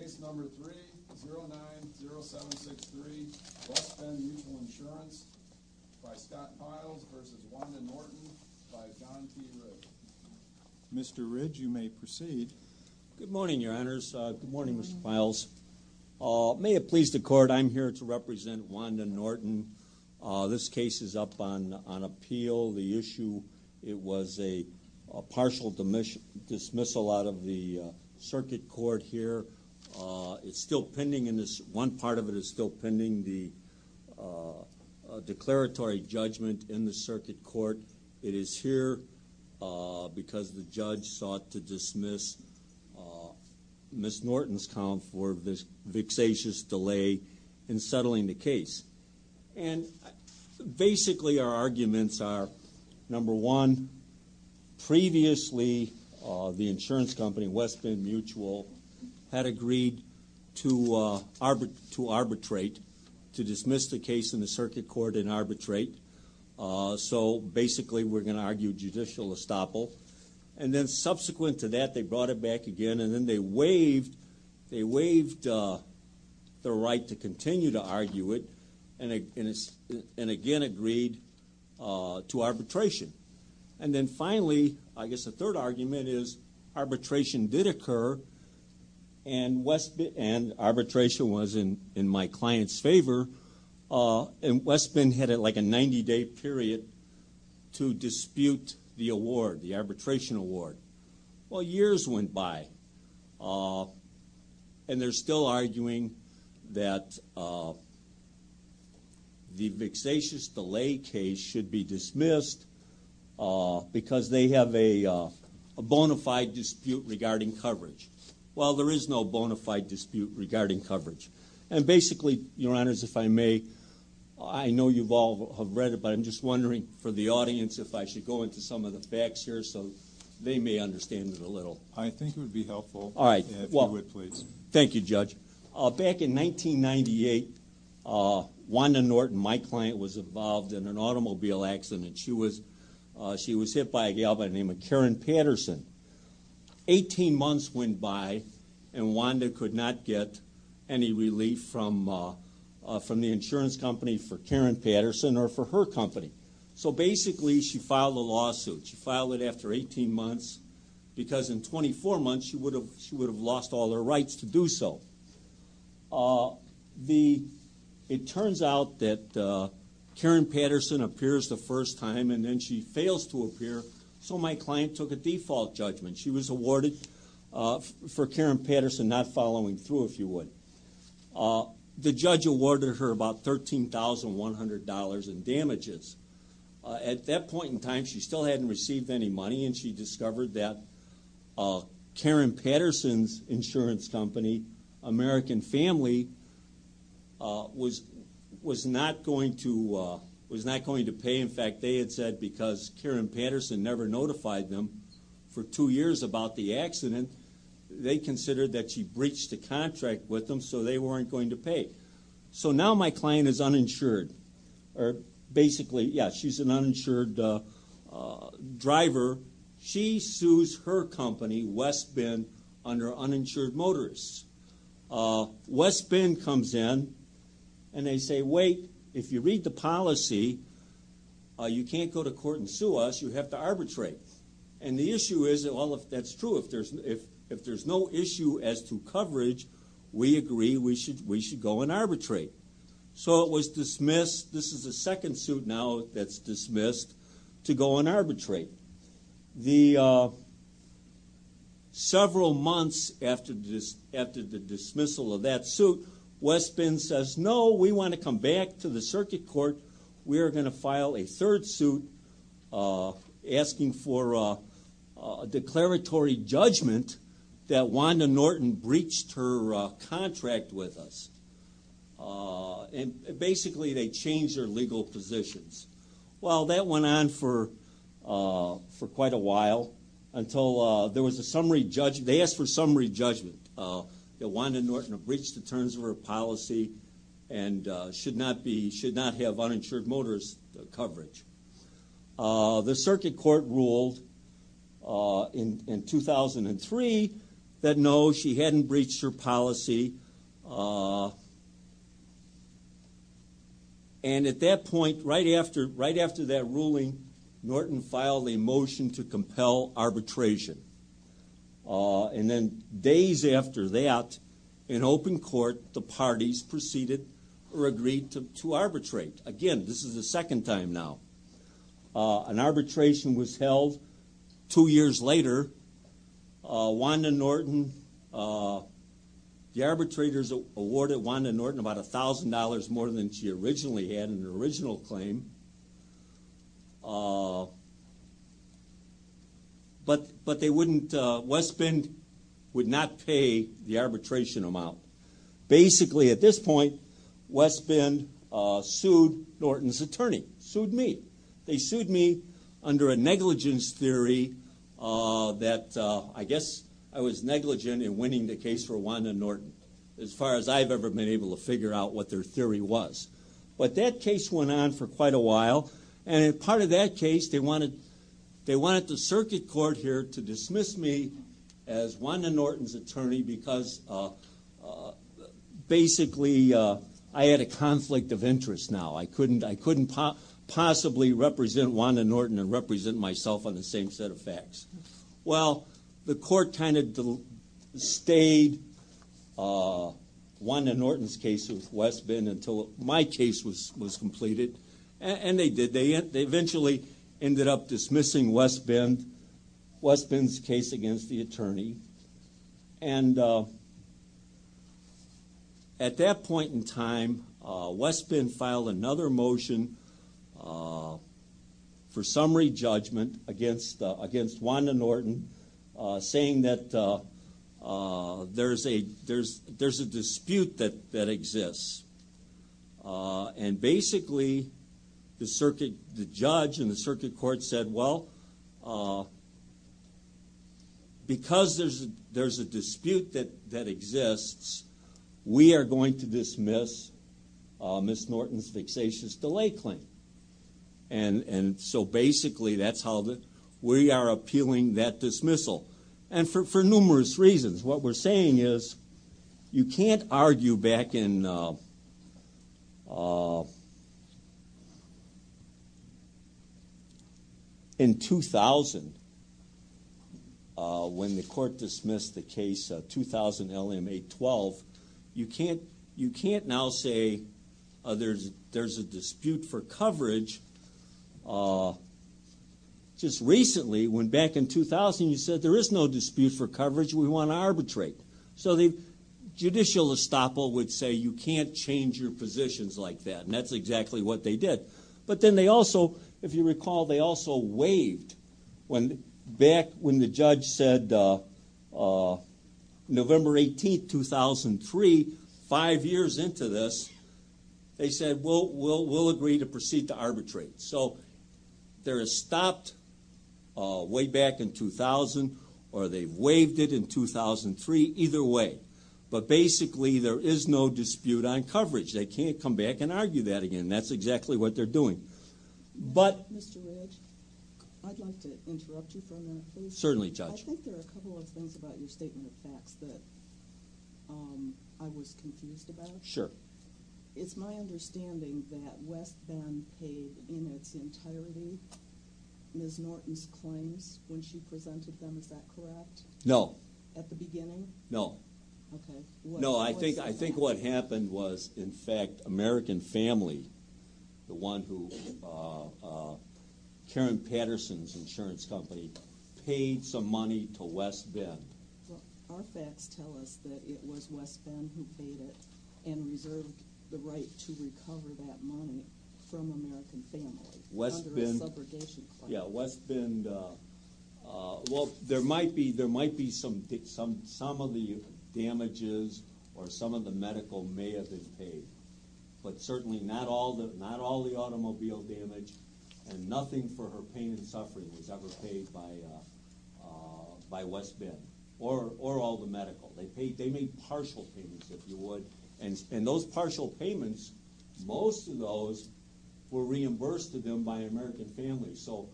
Case number 3-09-0763, West Bend Mutual Insurance, by Scott Files v. Wanda Norton, by John P. Ridge. Mr. Ridge, you may proceed. Good morning, Your Honors. Good morning, Mr. Files. May it please the Court, I'm here to represent Wanda Norton. This case is up on appeal. The issue, it was a partial dismissal out of the circuit court here. It's still pending, one part of it is still pending, the declaratory judgment in the circuit court. It is here because the judge sought to dismiss Ms. Norton's count for this vexatious delay in settling the case. And basically our arguments are, number one, previously the insurance company, West Bend Mutual, had agreed to arbitrate, to dismiss the case in the circuit court and arbitrate. So basically we're going to argue judicial estoppel. And then subsequent to that they brought it back again and then they waived the right to continue to argue it and again agreed to arbitration. And then finally, I guess the third argument is, arbitration did occur and arbitration was in my client's favor. And West Bend had like a 90-day period to dispute the award, the arbitration award. Well, years went by and they're still arguing that the vexatious delay case should be dismissed because they have a bona fide dispute regarding coverage. Well, there is no bona fide dispute regarding coverage. And basically, Your Honors, if I may, I know you all have read it, but I'm just wondering for the audience if I should go into some of the facts here so they may understand it a little. I think it would be helpful if you would, please. Thank you, Judge. Back in 1998, Wanda Norton, my client, was involved in an automobile accident. She was hit by a gal by the name of Karen Patterson. Eighteen months went by and Wanda could not get any relief from the insurance company for Karen Patterson or for her company. So basically, she filed a lawsuit. She filed it after 18 months because in 24 months she would have lost all her rights to do so. It turns out that Karen Patterson appears the first time and then she fails to appear, so my client took a default judgment. She was awarded for Karen Patterson not following through, if you would. The judge awarded her about $13,100 in damages. At that point in time, she still hadn't received any money, and she discovered that Karen Patterson's insurance company, American Family, was not going to pay. In fact, they had said because Karen Patterson never notified them for two years about the accident, they considered that she breached the contract with them, so they weren't going to pay. So now my client is uninsured. Basically, yeah, she's an uninsured driver. She sues her company, West Bend, under uninsured motorists. West Bend comes in and they say, wait, if you read the policy, you can't go to court and sue us, you have to arbitrate. And the issue is, well, that's true. If there's no issue as to coverage, we agree we should go and arbitrate. So it was dismissed. This is the second suit now that's dismissed to go and arbitrate. Several months after the dismissal of that suit, West Bend says, no, we want to come back to the circuit court. We are going to file a third suit asking for a declaratory judgment that Wanda Norton breached her contract with us. And basically, they changed their legal positions. Well, that went on for quite a while until there was a summary judgment. They asked for a summary judgment that Wanda Norton breached the terms of her policy and should not have uninsured motorist coverage. The circuit court ruled in 2003 that no, she hadn't breached her policy. And at that point, right after that ruling, Norton filed a motion to compel arbitration. And then days after that, in open court, the parties proceeded or agreed to arbitrate. Again, this is the second time now. An arbitration was held two years later. The arbitrators awarded Wanda Norton about $1,000 more than she originally had in her original claim. But West Bend would not pay the arbitration amount. Basically, at this point, West Bend sued Norton's attorney, sued me. They sued me under a negligence theory that I guess I was negligent in winning the case for Wanda Norton, as far as I've ever been able to figure out what their theory was. But that case went on for quite a while. And as part of that case, they wanted the circuit court here to dismiss me as Wanda Norton's attorney because basically I had a conflict of interest now. I couldn't possibly represent Wanda Norton and represent myself on the same set of facts. Well, the court kind of stayed Wanda Norton's case with West Bend until my case was completed. And they did. They eventually ended up dismissing West Bend's case against the attorney. And at that point in time, West Bend filed another motion for summary judgment against Wanda Norton, saying that there's a dispute that exists. And basically, the judge in the circuit court said, well, because there's a dispute that exists, we are going to dismiss Ms. Norton's vexatious delay claim. And so basically, that's how we are appealing that dismissal. And for numerous reasons. What we're saying is you can't argue back in 2000, when the court dismissed the case, 2000 LM 812. You can't now say there's a dispute for coverage. Just recently, back in 2000, you said there is no dispute for coverage. We want to arbitrate. So the judicial estoppel would say you can't change your positions like that. And that's exactly what they did. But then they also, if you recall, they also waived. Back when the judge said November 18, 2003, five years into this, they said we'll agree to proceed to arbitrate. So there is stopped way back in 2000, or they waived it in 2003, either way. But basically, there is no dispute on coverage. They can't come back and argue that again. That's exactly what they're doing. But... Mr. Ridge, I'd like to interrupt you for a minute, please. Certainly, Judge. I think there are a couple of things about your statement of facts that I was confused about. Sure. It's my understanding that West Bend paid in its entirety Ms. Norton's claims when she presented them. Is that correct? No. At the beginning? No. Okay. No, I think what happened was, in fact, American Family, the one who Karen Patterson's insurance company, paid some money to West Bend. Our facts tell us that it was West Bend who paid it and reserved the right to recover that money from American Family under a subrogation claim. Yeah, West Bend... Well, there might be some of the damages or some of the medical may have been paid, but certainly not all the automobile damage and nothing for her pain and suffering was ever paid by West Bend or all the medical. They made partial payments, if you would, and those partial payments, most of those were reimbursed to them by American Family. So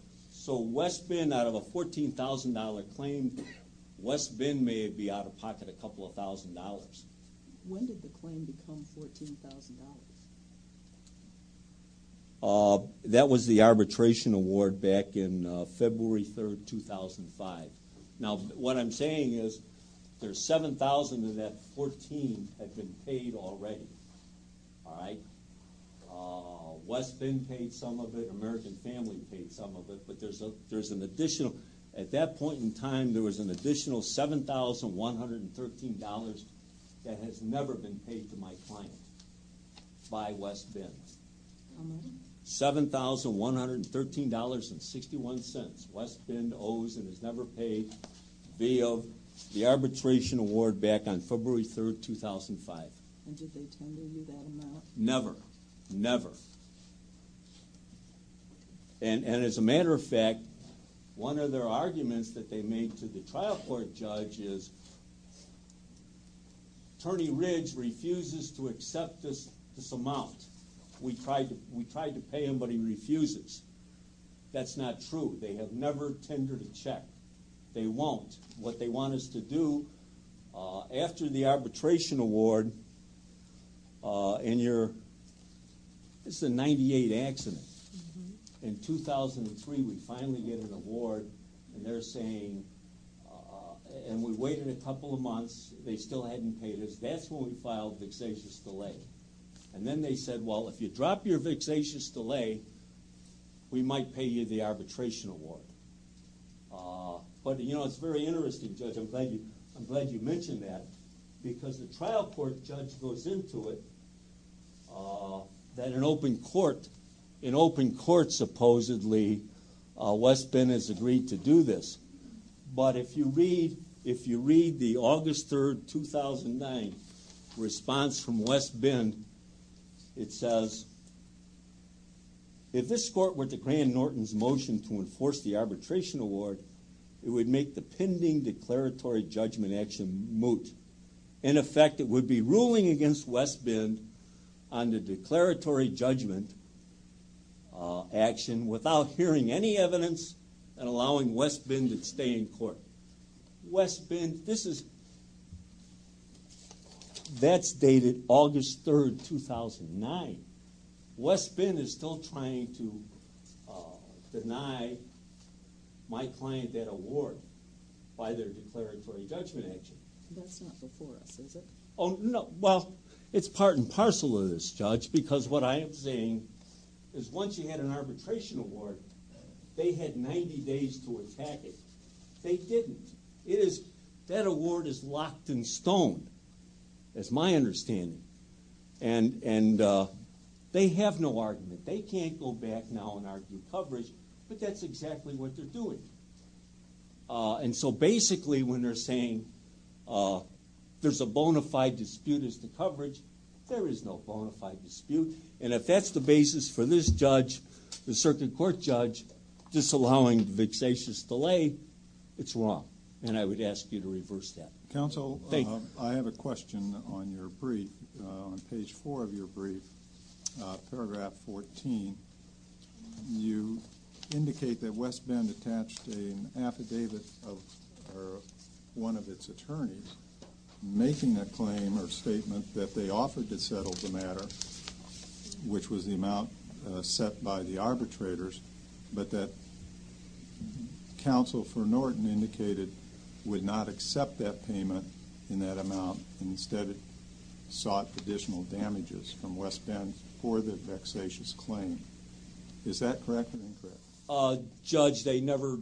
West Bend, out of a $14,000 claim, West Bend may be out of pocket a couple of thousand dollars. When did the claim become $14,000? That was the arbitration award back in February 3, 2005. Now, what I'm saying is there's $7,000 of that $14,000 that had been paid already. All right? West Bend paid some of it, American Family paid some of it, but there's an additional, at that point in time, there was an additional $7,113 that has never been paid to my client by West Bend. How much? $7,113.61. West Bend owes and has never paid via the arbitration award back on February 3, 2005. And did they tender you that amount? Never. Never. And as a matter of fact, one of their arguments that they made to the trial court judge is, Attorney Ridge refuses to accept this amount. We tried to pay him, but he refuses. That's not true. They have never tendered a check. They won't. What they want us to do, after the arbitration award, and you're, this is a 98 accident. In 2003, we finally get an award, and they're saying, and we waited a couple of months, they still hadn't paid us, that's when we filed vexatious delay. And then they said, well, if you drop your vexatious delay, we might pay you the arbitration award. But, you know, it's very interesting, Judge. I'm glad you mentioned that. Because the trial court judge goes into it that an open court, an open court supposedly, West Bend has agreed to do this. But if you read the August 3, 2009 response from West Bend, it says, if this court were to grant Norton's motion to enforce the arbitration award, it would make the pending declaratory judgment action moot. In effect, it would be ruling against West Bend on the declaratory judgment action without hearing any evidence, and allowing West Bend to stay in court. West Bend, this is, that's dated August 3, 2009. West Bend is still trying to deny my client that award by their declaratory judgment action. That's not before us, is it? Oh, no. Well, it's part and parcel of this, Judge, because what I am saying is once you had an arbitration award, they had 90 days to attack it. They didn't. It is, that award is locked in stone, as my understanding. And they have no argument. They can't go back now and argue coverage, but that's exactly what they're doing. And so basically when they're saying there's a bona fide dispute as to coverage, there is no bona fide dispute. And if that's the basis for this judge, the circuit court judge, disallowing the vexatious delay, it's wrong. And I would ask you to reverse that. Counsel, I have a question on your brief, on page 4 of your brief, paragraph 14. You indicate that West Bend attached an affidavit of one of its attorneys making a claim or statement that they offered to settle the matter, which was the amount set by the arbitrators, but that counsel for Norton indicated would not accept that payment in that amount and instead sought additional damages from West Bend for the vexatious claim. Is that correct or incorrect? Judge, they never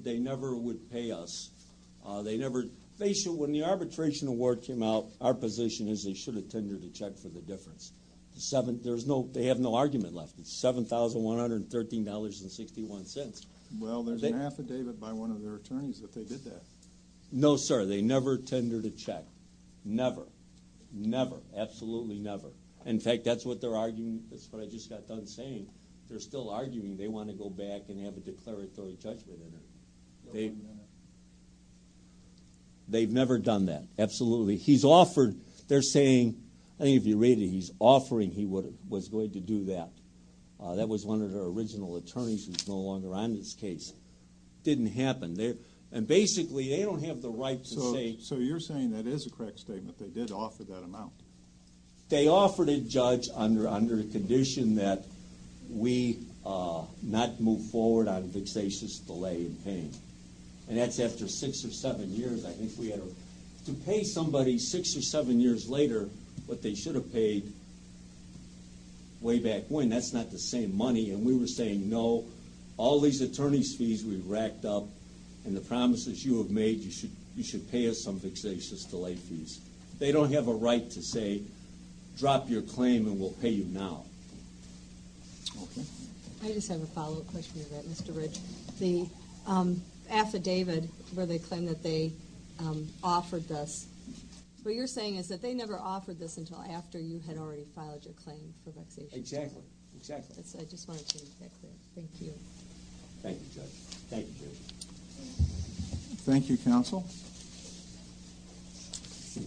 would pay us. When the arbitration award came out, our position is they should have tendered a check for the difference. They have no argument left. It's $7,113.61. Well, there's an affidavit by one of their attorneys that they did that. No, sir, they never tendered a check. Never, never, absolutely never. In fact, that's what they're arguing. That's what I just got done saying. They're still arguing. They want to go back and have a declaratory judgment in it. They've never done that, absolutely. He's offered. They're saying, I think if you read it, he's offering he was going to do that. That was one of their original attorneys who's no longer on this case. Didn't happen. And basically, they don't have the right to say. So you're saying that is a correct statement, they did offer that amount? They offered it, Judge, under the condition that we not move forward on vexatious delay in paying. And that's after six or seven years. I think we had to pay somebody six or seven years later what they should have paid way back when. That's not the same money. And we were saying, no, all these attorney's fees we've racked up and the promises you have made, you should pay us some vexatious delay fees. They don't have a right to say drop your claim and we'll pay you now. Okay. I just have a follow-up question to that, Mr. Ridge. The affidavit where they claim that they offered this, what you're saying is that they never offered this until after you had already filed your claim for vexation. Exactly. I just wanted to make that clear. Thank you. Thank you, Judge. Thank you, counsel.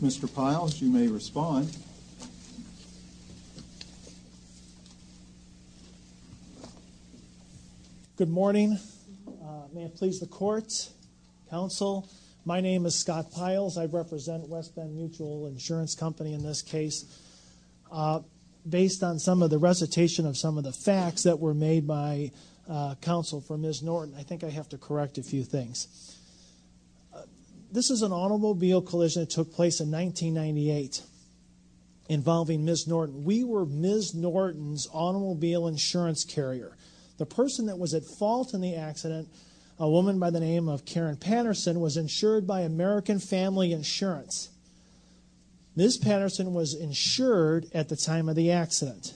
Mr. Piles, you may respond. Thank you. Good morning. May it please the court. Counsel, my name is Scott Piles. I represent West Bend Mutual Insurance Company in this case. Based on some of the recitation of some of the facts that were made by counsel for Ms. Norton, I think I have to correct a few things. This is an automobile collision that took place in 1998 involving Ms. Norton. We were Ms. Norton's automobile insurance carrier. The person that was at fault in the accident, a woman by the name of Karen Patterson, was insured by American Family Insurance. Ms. Patterson was insured at the time of the accident.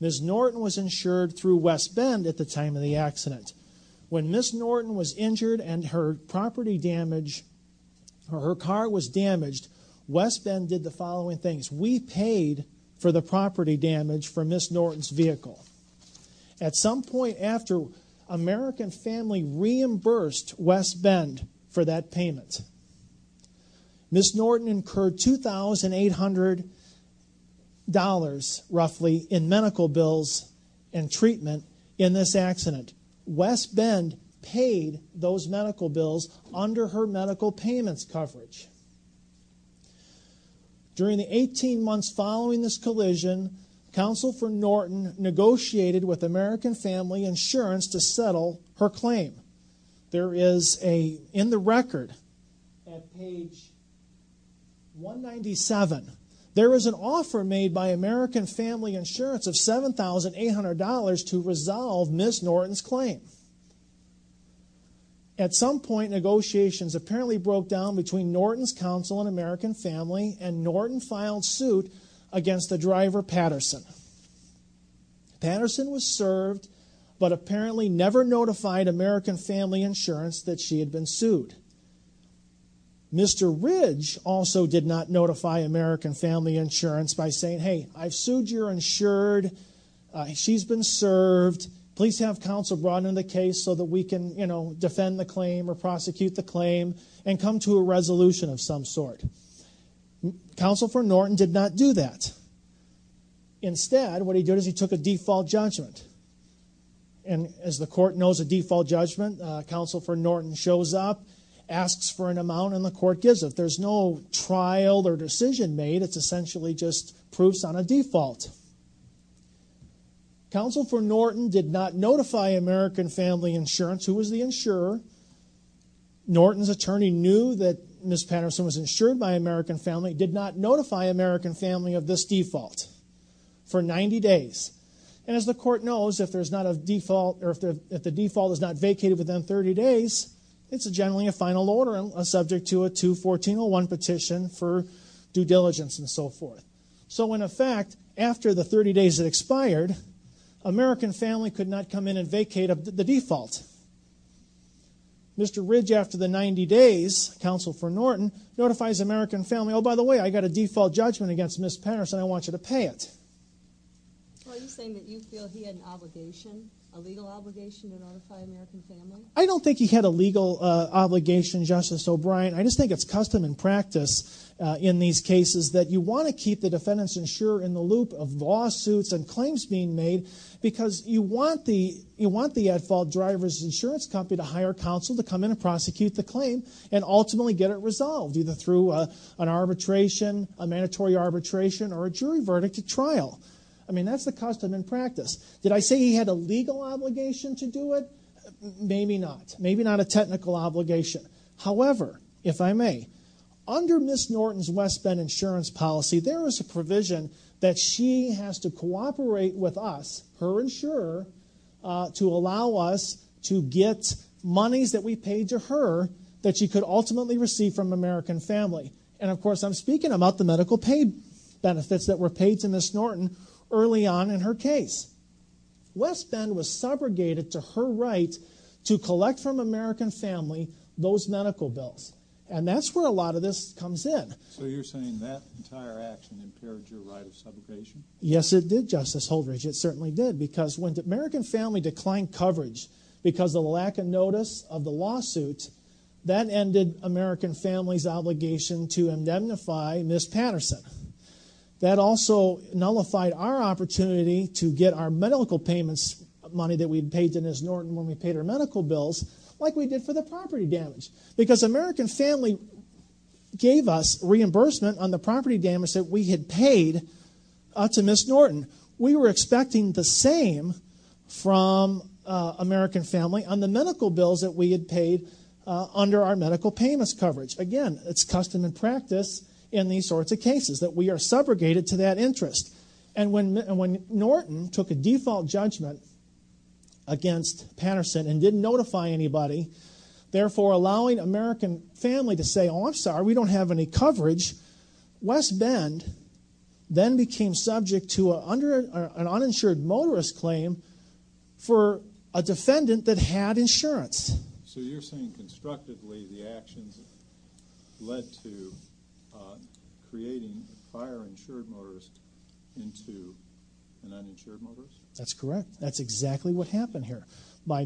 Ms. Norton was insured through West Bend at the time of the accident. When Ms. Norton was injured and her property damage or her car was damaged, West Bend did the following things. We paid for the property damage for Ms. Norton's vehicle. At some point after American Family reimbursed West Bend for that payment, Ms. Norton incurred $2,800 roughly in medical bills and treatment in this accident. West Bend paid those medical bills under her medical payments coverage. During the 18 months following this collision, counsel for Norton negotiated with American Family Insurance to settle her claim. There is in the record at page 197, there is an offer made by American Family Insurance of $7,800 to resolve Ms. Norton's claim. At some point negotiations apparently broke down between Norton's counsel and American Family and Norton filed suit against the driver Patterson. Patterson was served but apparently never notified American Family Insurance that she had been sued. Mr. Ridge also did not notify American Family Insurance by saying, hey, I've sued, you're insured, she's been served, please have counsel brought in the case so that we can defend the claim or prosecute the claim and come to a resolution of some sort. Counsel for Norton did not do that. Instead, what he did is he took a default judgment. And as the court knows, a default judgment, counsel for Norton shows up, asks for an amount and the court gives it. There's no trial or decision made. It's essentially just proofs on a default. Counsel for Norton did not notify American Family Insurance, who was the insurer. Norton's attorney knew that Ms. Patterson was insured by American Family, did not notify American Family of this default for 90 days. And as the court knows, if the default is not vacated within 30 days, it's generally a final order subject to a 214.01 petition for due diligence and so forth. So in effect, after the 30 days had expired, American Family could not come in and vacate the default. Mr. Ridge, after the 90 days, counsel for Norton, notifies American Family, oh, by the way, I got a default judgment against Ms. Patterson, I want you to pay it. Are you saying that you feel he had an obligation, a legal obligation to notify American Family? I don't think he had a legal obligation, Justice O'Brien. I just think it's custom and practice in these cases that you want to keep the defendant's insurer in the loop of lawsuits and claims being made because you want the at-fault driver's insurance company to hire counsel to come in and prosecute the claim and ultimately get it resolved, either through an arbitration, a mandatory arbitration, or a jury verdict at trial. I mean, that's the custom and practice. Did I say he had a legal obligation to do it? Maybe not. Maybe not a technical obligation. However, if I may, under Ms. Norton's West Bend insurance policy, there is a provision that she has to cooperate with us, her insurer, to allow us to get monies that we paid to her that she could ultimately receive from American Family. And, of course, I'm speaking about the medical pay benefits that were paid to Ms. Norton early on in her case. West Bend was subrogated to her right to collect from American Family those medical bills. And that's where a lot of this comes in. So you're saying that entire action impaired your right of subrogation? Yes, it did, Justice Holdridge. It certainly did. Because when American Family declined coverage because of the lack of notice of the lawsuit, that ended American Family's obligation to indemnify Ms. Patterson. That also nullified our opportunity to get our medical payments money that we had paid to Ms. Norton when we paid her medical bills, like we did for the property damage. Because American Family gave us reimbursement on the property damage that we had paid to Ms. Norton. We were expecting the same from American Family on the medical bills that we had paid under our medical payments coverage. Again, it's custom and practice in these sorts of cases that we are subrogated to that interest. And when Norton took a default judgment against Patterson and didn't notify anybody, therefore allowing American Family to say, oh, I'm sorry, we don't have any coverage. West Bend then became subject to an uninsured motorist claim for a defendant that had insurance. So you're saying constructively the actions led to creating a prior insured motorist into an uninsured motorist? That's correct. That's exactly what happened here. By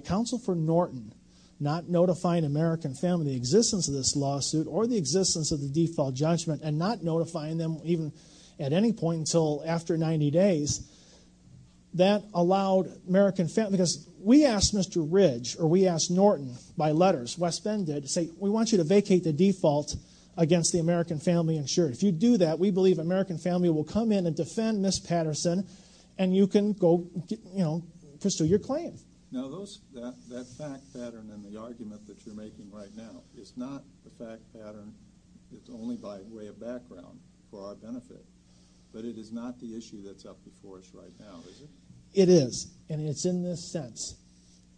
Counsel for Norton not notifying American Family in the existence of this lawsuit or the existence of the default judgment and not notifying them even at any point until after 90 days, that allowed American Family, because we asked Mr. Ridge or we asked Norton by letters, West Bend did, to say we want you to vacate the default against the American Family insured. If you do that, we believe American Family will come in and defend Ms. Patterson and you can go pursue your claim. Now that fact pattern in the argument that you're making right now is not the fact pattern that's only by way of background for our benefit, but it is not the issue that's up before us right now, is it? It is, and it's in this sense.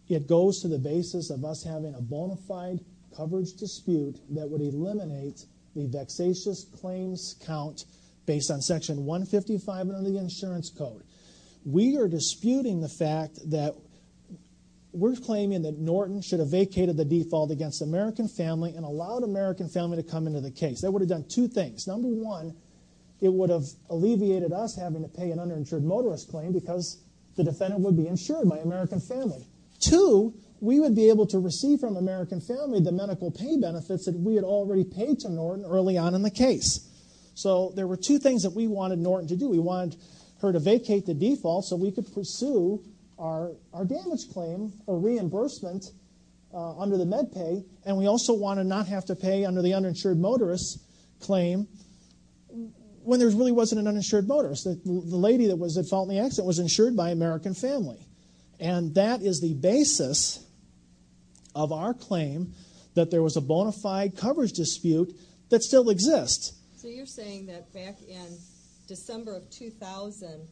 It goes to the basis of us having a bona fide coverage dispute that would eliminate the vexatious claims count based on Section 155 under the Insurance Code. We are disputing the fact that we're claiming that Norton should have vacated the default against the American Family and allowed American Family to come into the case. That would have done two things. Number one, it would have alleviated us having to pay an underinsured motorist claim because the defendant would be insured by American Family. Two, we would be able to receive from American Family the medical pay benefits that we had already paid to Norton early on in the case. So there were two things that we wanted Norton to do. We wanted her to vacate the default so we could pursue our damage claim, our reimbursement under the med pay, and we also wanted not have to pay under the uninsured motorist claim when there really wasn't an uninsured motorist. The lady that was at fault in the accident was insured by American Family. And that is the basis of our claim that there was a bona fide coverage dispute that still exists. So you're saying that back in December of 2000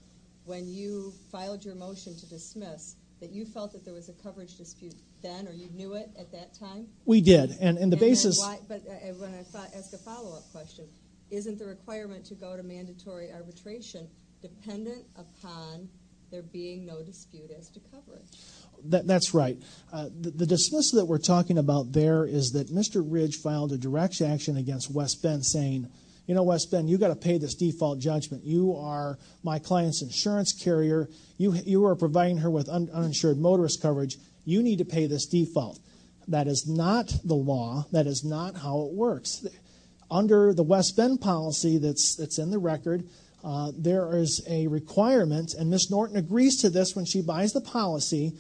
when you filed your motion to dismiss that you felt that there was a coverage dispute then or you knew it at that time? We did. But I want to ask a follow-up question. Isn't the requirement to go to mandatory arbitration dependent upon there being no dispute as to coverage? That's right. The dismissal that we're talking about there is that Mr. Ridge filed a direct action against West Bend saying, you know, West Bend, you've got to pay this default judgment. You are my client's insurance carrier. You are providing her with uninsured motorist coverage. You need to pay this default. That is not the law. That is not how it works. Under the West Bend policy that's in the record, there is a requirement, and Ms. Norton agrees to this when she buys the policy.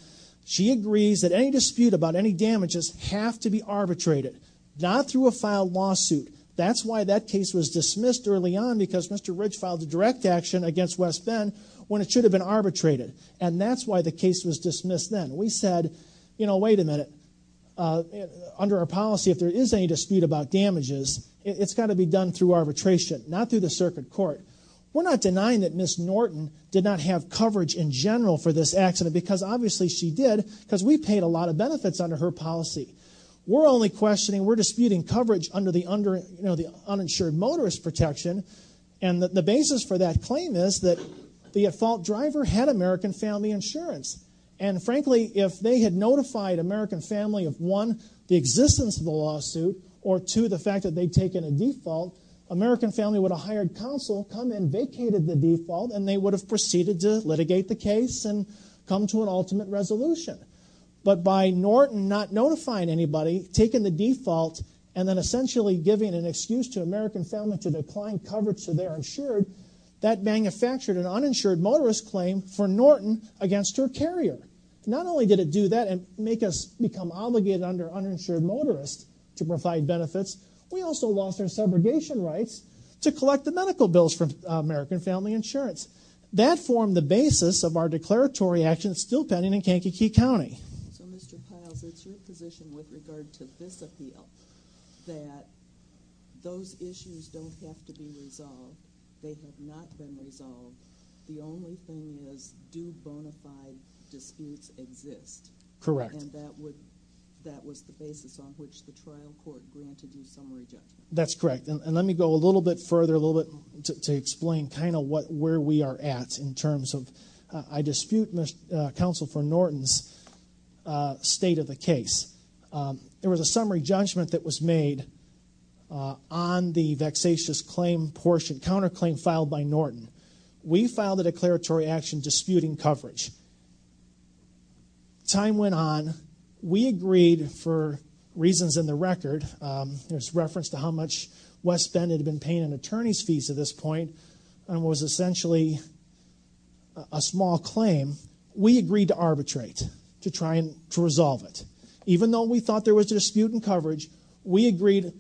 She agrees that any dispute about any damages have to be arbitrated, not through a filed lawsuit. That's why that case was dismissed early on because Mr. Ridge filed a direct action against West Bend when it should have been arbitrated. And that's why the case was dismissed then. We said, you know, wait a minute. Under our policy, if there is any dispute about damages, it's got to be done through arbitration, not through the circuit court. We're not denying that Ms. Norton did not have coverage in general for this accident because obviously she did because we paid a lot of benefits under her policy. We're only questioning, we're disputing coverage under the uninsured motorist protection. And the basis for that claim is that the at-fault driver had American Family Insurance. And frankly, if they had notified American Family of one, the existence of the lawsuit, or two, the fact that they'd taken a default, American Family would have hired counsel, come in, vacated the default, and they would have proceeded to litigate the case and come to an ultimate resolution. But by Norton not notifying anybody, taking the default, and then essentially giving an excuse to American Family to decline coverage so they're insured, that manufactured an uninsured motorist claim for Norton against her carrier. Not only did it do that and make us become obligated under uninsured motorists to provide benefits, we also lost our segregation rights to collect the medical bills from American Family Insurance. That formed the basis of our declaratory actions still pending in Kankakee County. So Mr. Piles, it's your position with regard to this appeal that those issues don't have to be resolved. They have not been resolved. The only thing is, do bona fide disputes exist? Correct. And that was the basis on which the trial court granted you summary judgment. That's correct. And let me go a little bit further, a little bit to explain kind of where we are at in terms of I dispute Counsel for Norton's state of the case. There was a summary judgment that was made on the vexatious claim portion, counterclaim filed by Norton. We filed a declaratory action disputing coverage. Time went on. We agreed for reasons in the record. There's reference to how much West Bend had been paying in attorney's fees at this point and was essentially a small claim. We agreed to arbitrate to try and resolve it. Even though we thought there was dispute in coverage, we agreed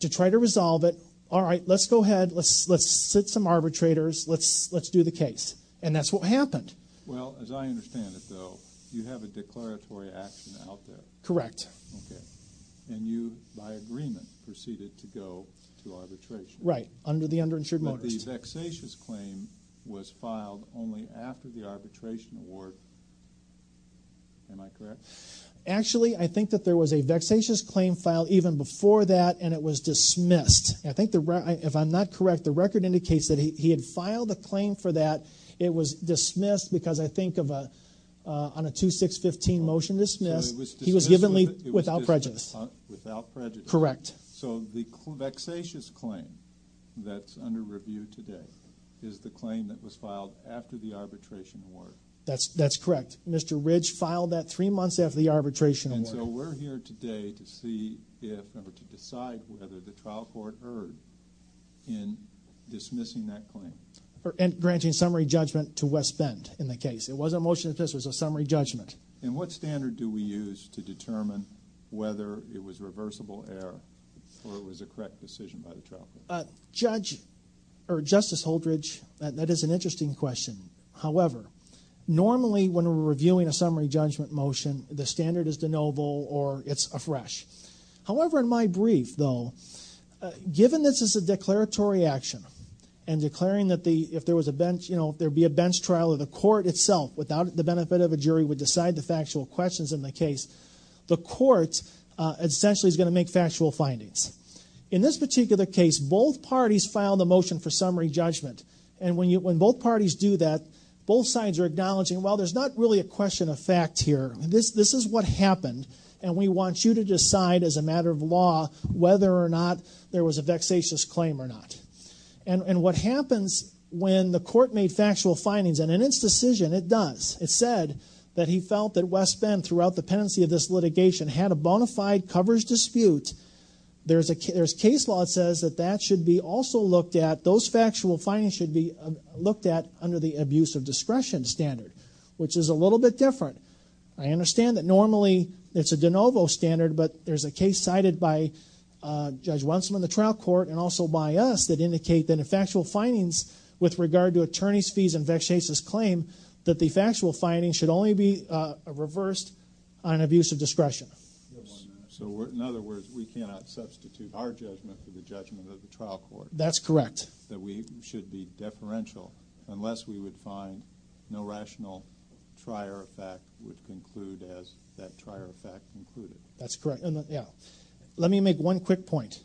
to try to resolve it. All right, let's go ahead. Let's sit some arbitrators. Let's do the case. And that's what happened. Well, as I understand it, though, you have a declaratory action out there. Correct. Okay. And you, by agreement, proceeded to go to arbitration. Right, under the underinsured motorist. But the vexatious claim was filed only after the arbitration award. Am I correct? Actually, I think that there was a vexatious claim filed even before that, and it was dismissed. If I'm not correct, the record indicates that he had filed a claim for that. It was dismissed because, I think, on a 2-6-15 motion dismissed, he was given without prejudice. Without prejudice. Correct. So the vexatious claim that's under review today is the claim that was filed after the arbitration award. That's correct. Mr. Ridge filed that 3 months after the arbitration award. And so we're here today to see if, or to decide whether the trial court erred in dismissing that claim. And granting summary judgment to West Bend in the case. It wasn't a motion to dismiss, it was a summary judgment. And what standard do we use to determine whether it was reversible error or it was a correct decision by the trial court? Judge, or Justice Holdridge, that is an interesting question. However, normally when we're reviewing a summary judgment motion, the standard is de novo or it's afresh. However, in my brief, though, given this is a declaratory action, and declaring that if there was a bench, you know, if there would be a bench trial, or the court itself, without the benefit of a jury, would decide the factual questions in the case, the court essentially is going to make factual findings. In this particular case, both parties filed the motion for summary judgment. And when both parties do that, both sides are acknowledging, well, there's not really a question of fact here. This is what happened, and we want you to decide as a matter of law whether or not there was a vexatious claim or not. And what happens when the court made factual findings, and in its decision, it does. It said that he felt that West Bend, throughout the pendency of this litigation, had a bona fide coverage dispute. There's case law that says that that should be also looked at, those factual findings should be looked at under the abuse of discretion standard, which is a little bit different. I understand that normally it's a de novo standard, but there's a case cited by Judge Wensel in the trial court, and also by us, that indicate that if factual findings with regard to attorney's fees and vexatious claim, that the factual findings should only be reversed on abuse of discretion. So in other words, we cannot substitute our judgment for the judgment of the trial court. That's correct. That we should be deferential, unless we would find no rational trier effect would conclude as that trier effect concluded. That's correct. Let me make one quick point.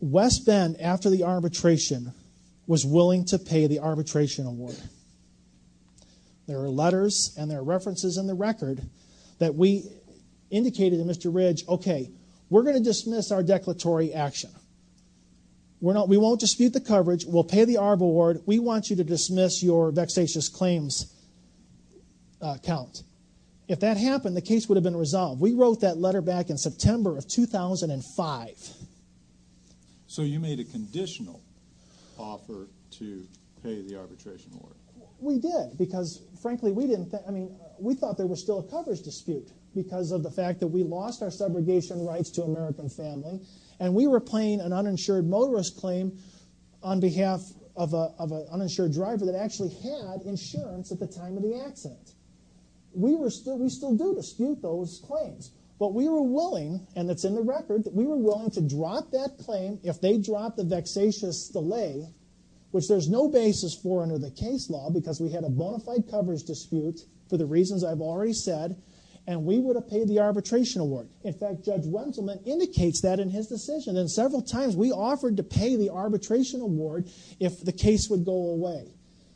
West Bend, after the arbitration, was willing to pay the arbitration award. There are letters and there are references in the record that we indicated to Mr. Ridge, okay, we're going to dismiss our declaratory action. We won't dispute the coverage, we'll pay the arb award, we want you to dismiss your vexatious claims account. If that happened, the case would have been resolved. We wrote that letter back in September of 2005. So you made a conditional offer to pay the arbitration award. We did because, frankly, we thought there was still a coverage dispute because of the fact that we lost our subrogation rights to American family and we were playing an uninsured motorist claim on behalf of an uninsured driver that actually had insurance at the time of the accident. We still do dispute those claims, but we were willing, and it's in the record, that we were willing to drop that claim if they dropped the vexatious delay, which there's no basis for under the case law because we had a bona fide coverage dispute, for the reasons I've already said, and we would have paid the arbitration award. In fact, Judge Wenselman indicates that in his decision, and several times we offered to pay the arbitration award if the case would go away.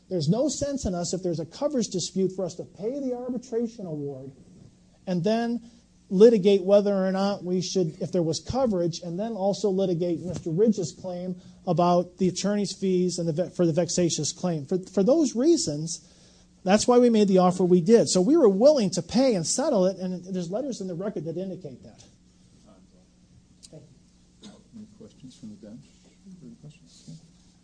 There's no sense in us, if there's a coverage dispute, for us to pay the arbitration award and then litigate whether or not we should, if there was coverage, and then also litigate Mr. Ridge's claim about the attorney's fees for the vexatious claim. For those reasons, that's why we made the offer we did. So we were willing to pay and settle it, and there's letters in the record that indicate that. Any questions from the bench?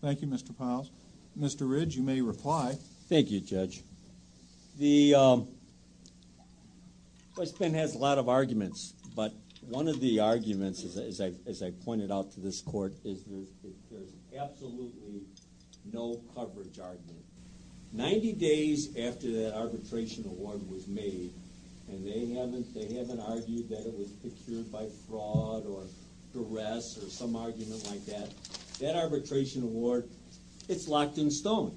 Thank you, Mr. Piles. Mr. Ridge, you may reply. Thank you, Judge. The question has a lot of arguments, but one of the arguments, as I pointed out to this court, is there's absolutely no coverage argument. Ninety days after that arbitration award was made, and they haven't argued that it was procured by fraud or duress or some argument like that, that arbitration award, it's locked in stone.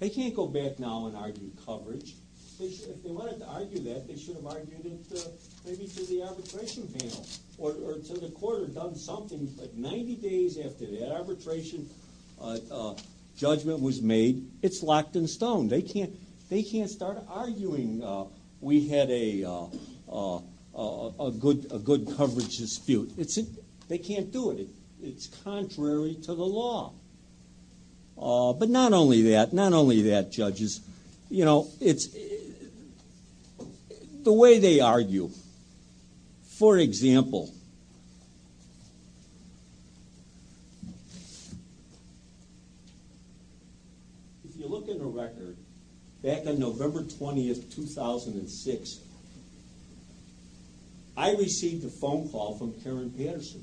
They can't go back now and argue coverage. If they wanted to argue that, they should have argued it maybe to the arbitration panel or to the court or done something. But 90 days after that arbitration judgment was made, it's locked in stone. They can't start arguing we had a good coverage dispute. They can't do it. It's contrary to the law. But not only that, judges. The way they argue. For example, if you look at the record, back on November 20, 2006, I received a phone call from Karen Patterson.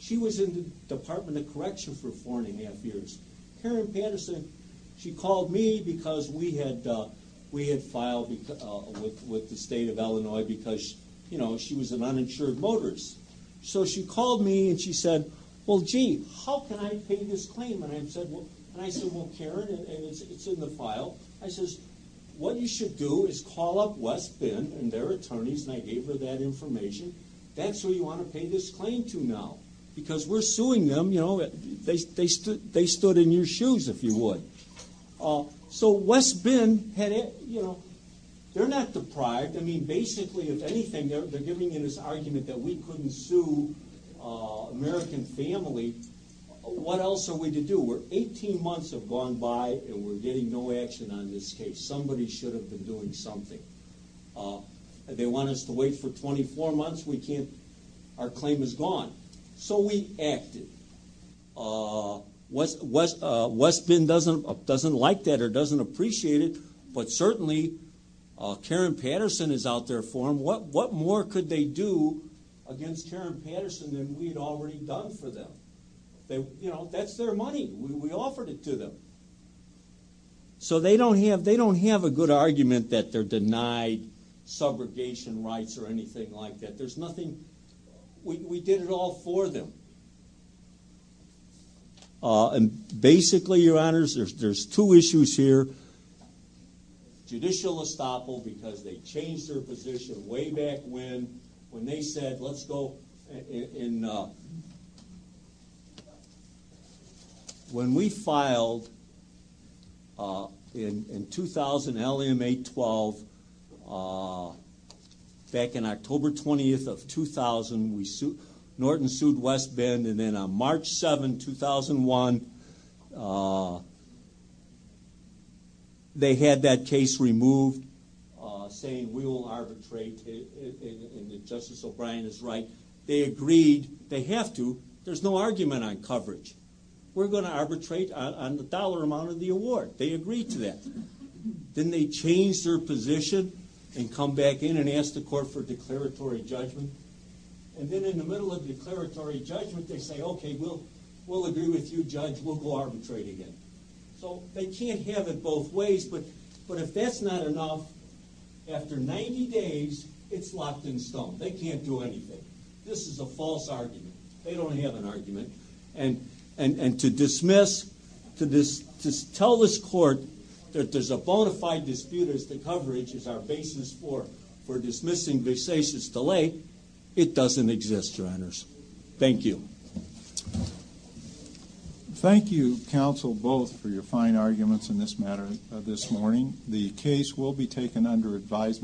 She was in the Department of Correction for four and a half years. Karen Patterson, she called me because we had filed with the state of Illinois because she was an uninsured motorist. So she called me and she said, well, gee, how can I pay this claim? And I said, well, Karen, it's in the file. I said, what you should do is call up West Bend and their attorneys, and I gave her that information. That's who you want to pay this claim to now. Because we're suing them. They stood in your shoes, if you would. So West Bend, they're not deprived. I mean, basically, if anything, they're giving you this argument that we couldn't sue American family. What else are we to do? Eighteen months have gone by and we're getting no action on this case. Somebody should have been doing something. They want us to wait for 24 months. Our claim is gone. So we acted. West Bend doesn't like that or doesn't appreciate it, but certainly Karen Patterson is out there for them. What more could they do against Karen Patterson than we had already done for them? That's their money. We offered it to them. So they don't have a good argument that they're denied subrogation rights or anything like that. There's nothing. We did it all for them. And basically, Your Honors, there's two issues here. Judicial estoppel, because they changed their position way back when, when they said, let's go. When we filed in 2000, L.A. 8-12, back in October 20th of 2000, Norton sued West Bend, and then on March 7, 2001, they had that case removed, saying we will arbitrate and that Justice O'Brien is right. They agreed they have to. There's no argument on coverage. We're going to arbitrate on the dollar amount of the award. They agreed to that. Then they changed their position and come back in and ask the court for declaratory judgment. And then in the middle of declaratory judgment, they say, okay, we'll agree with you, Judge. We'll go arbitrate again. So they can't have it both ways, but if that's not enough, after 90 days, it's locked in stone. They can't do anything. This is a false argument. They don't have an argument. And to dismiss, to tell this court that there's a bona fide dispute as to coverage is our basis for dismissing versace's delay, it doesn't exist, Your Honors. Thank you. Thank you, counsel, both, for your fine arguments in this matter this morning. The case will be taken under advisement.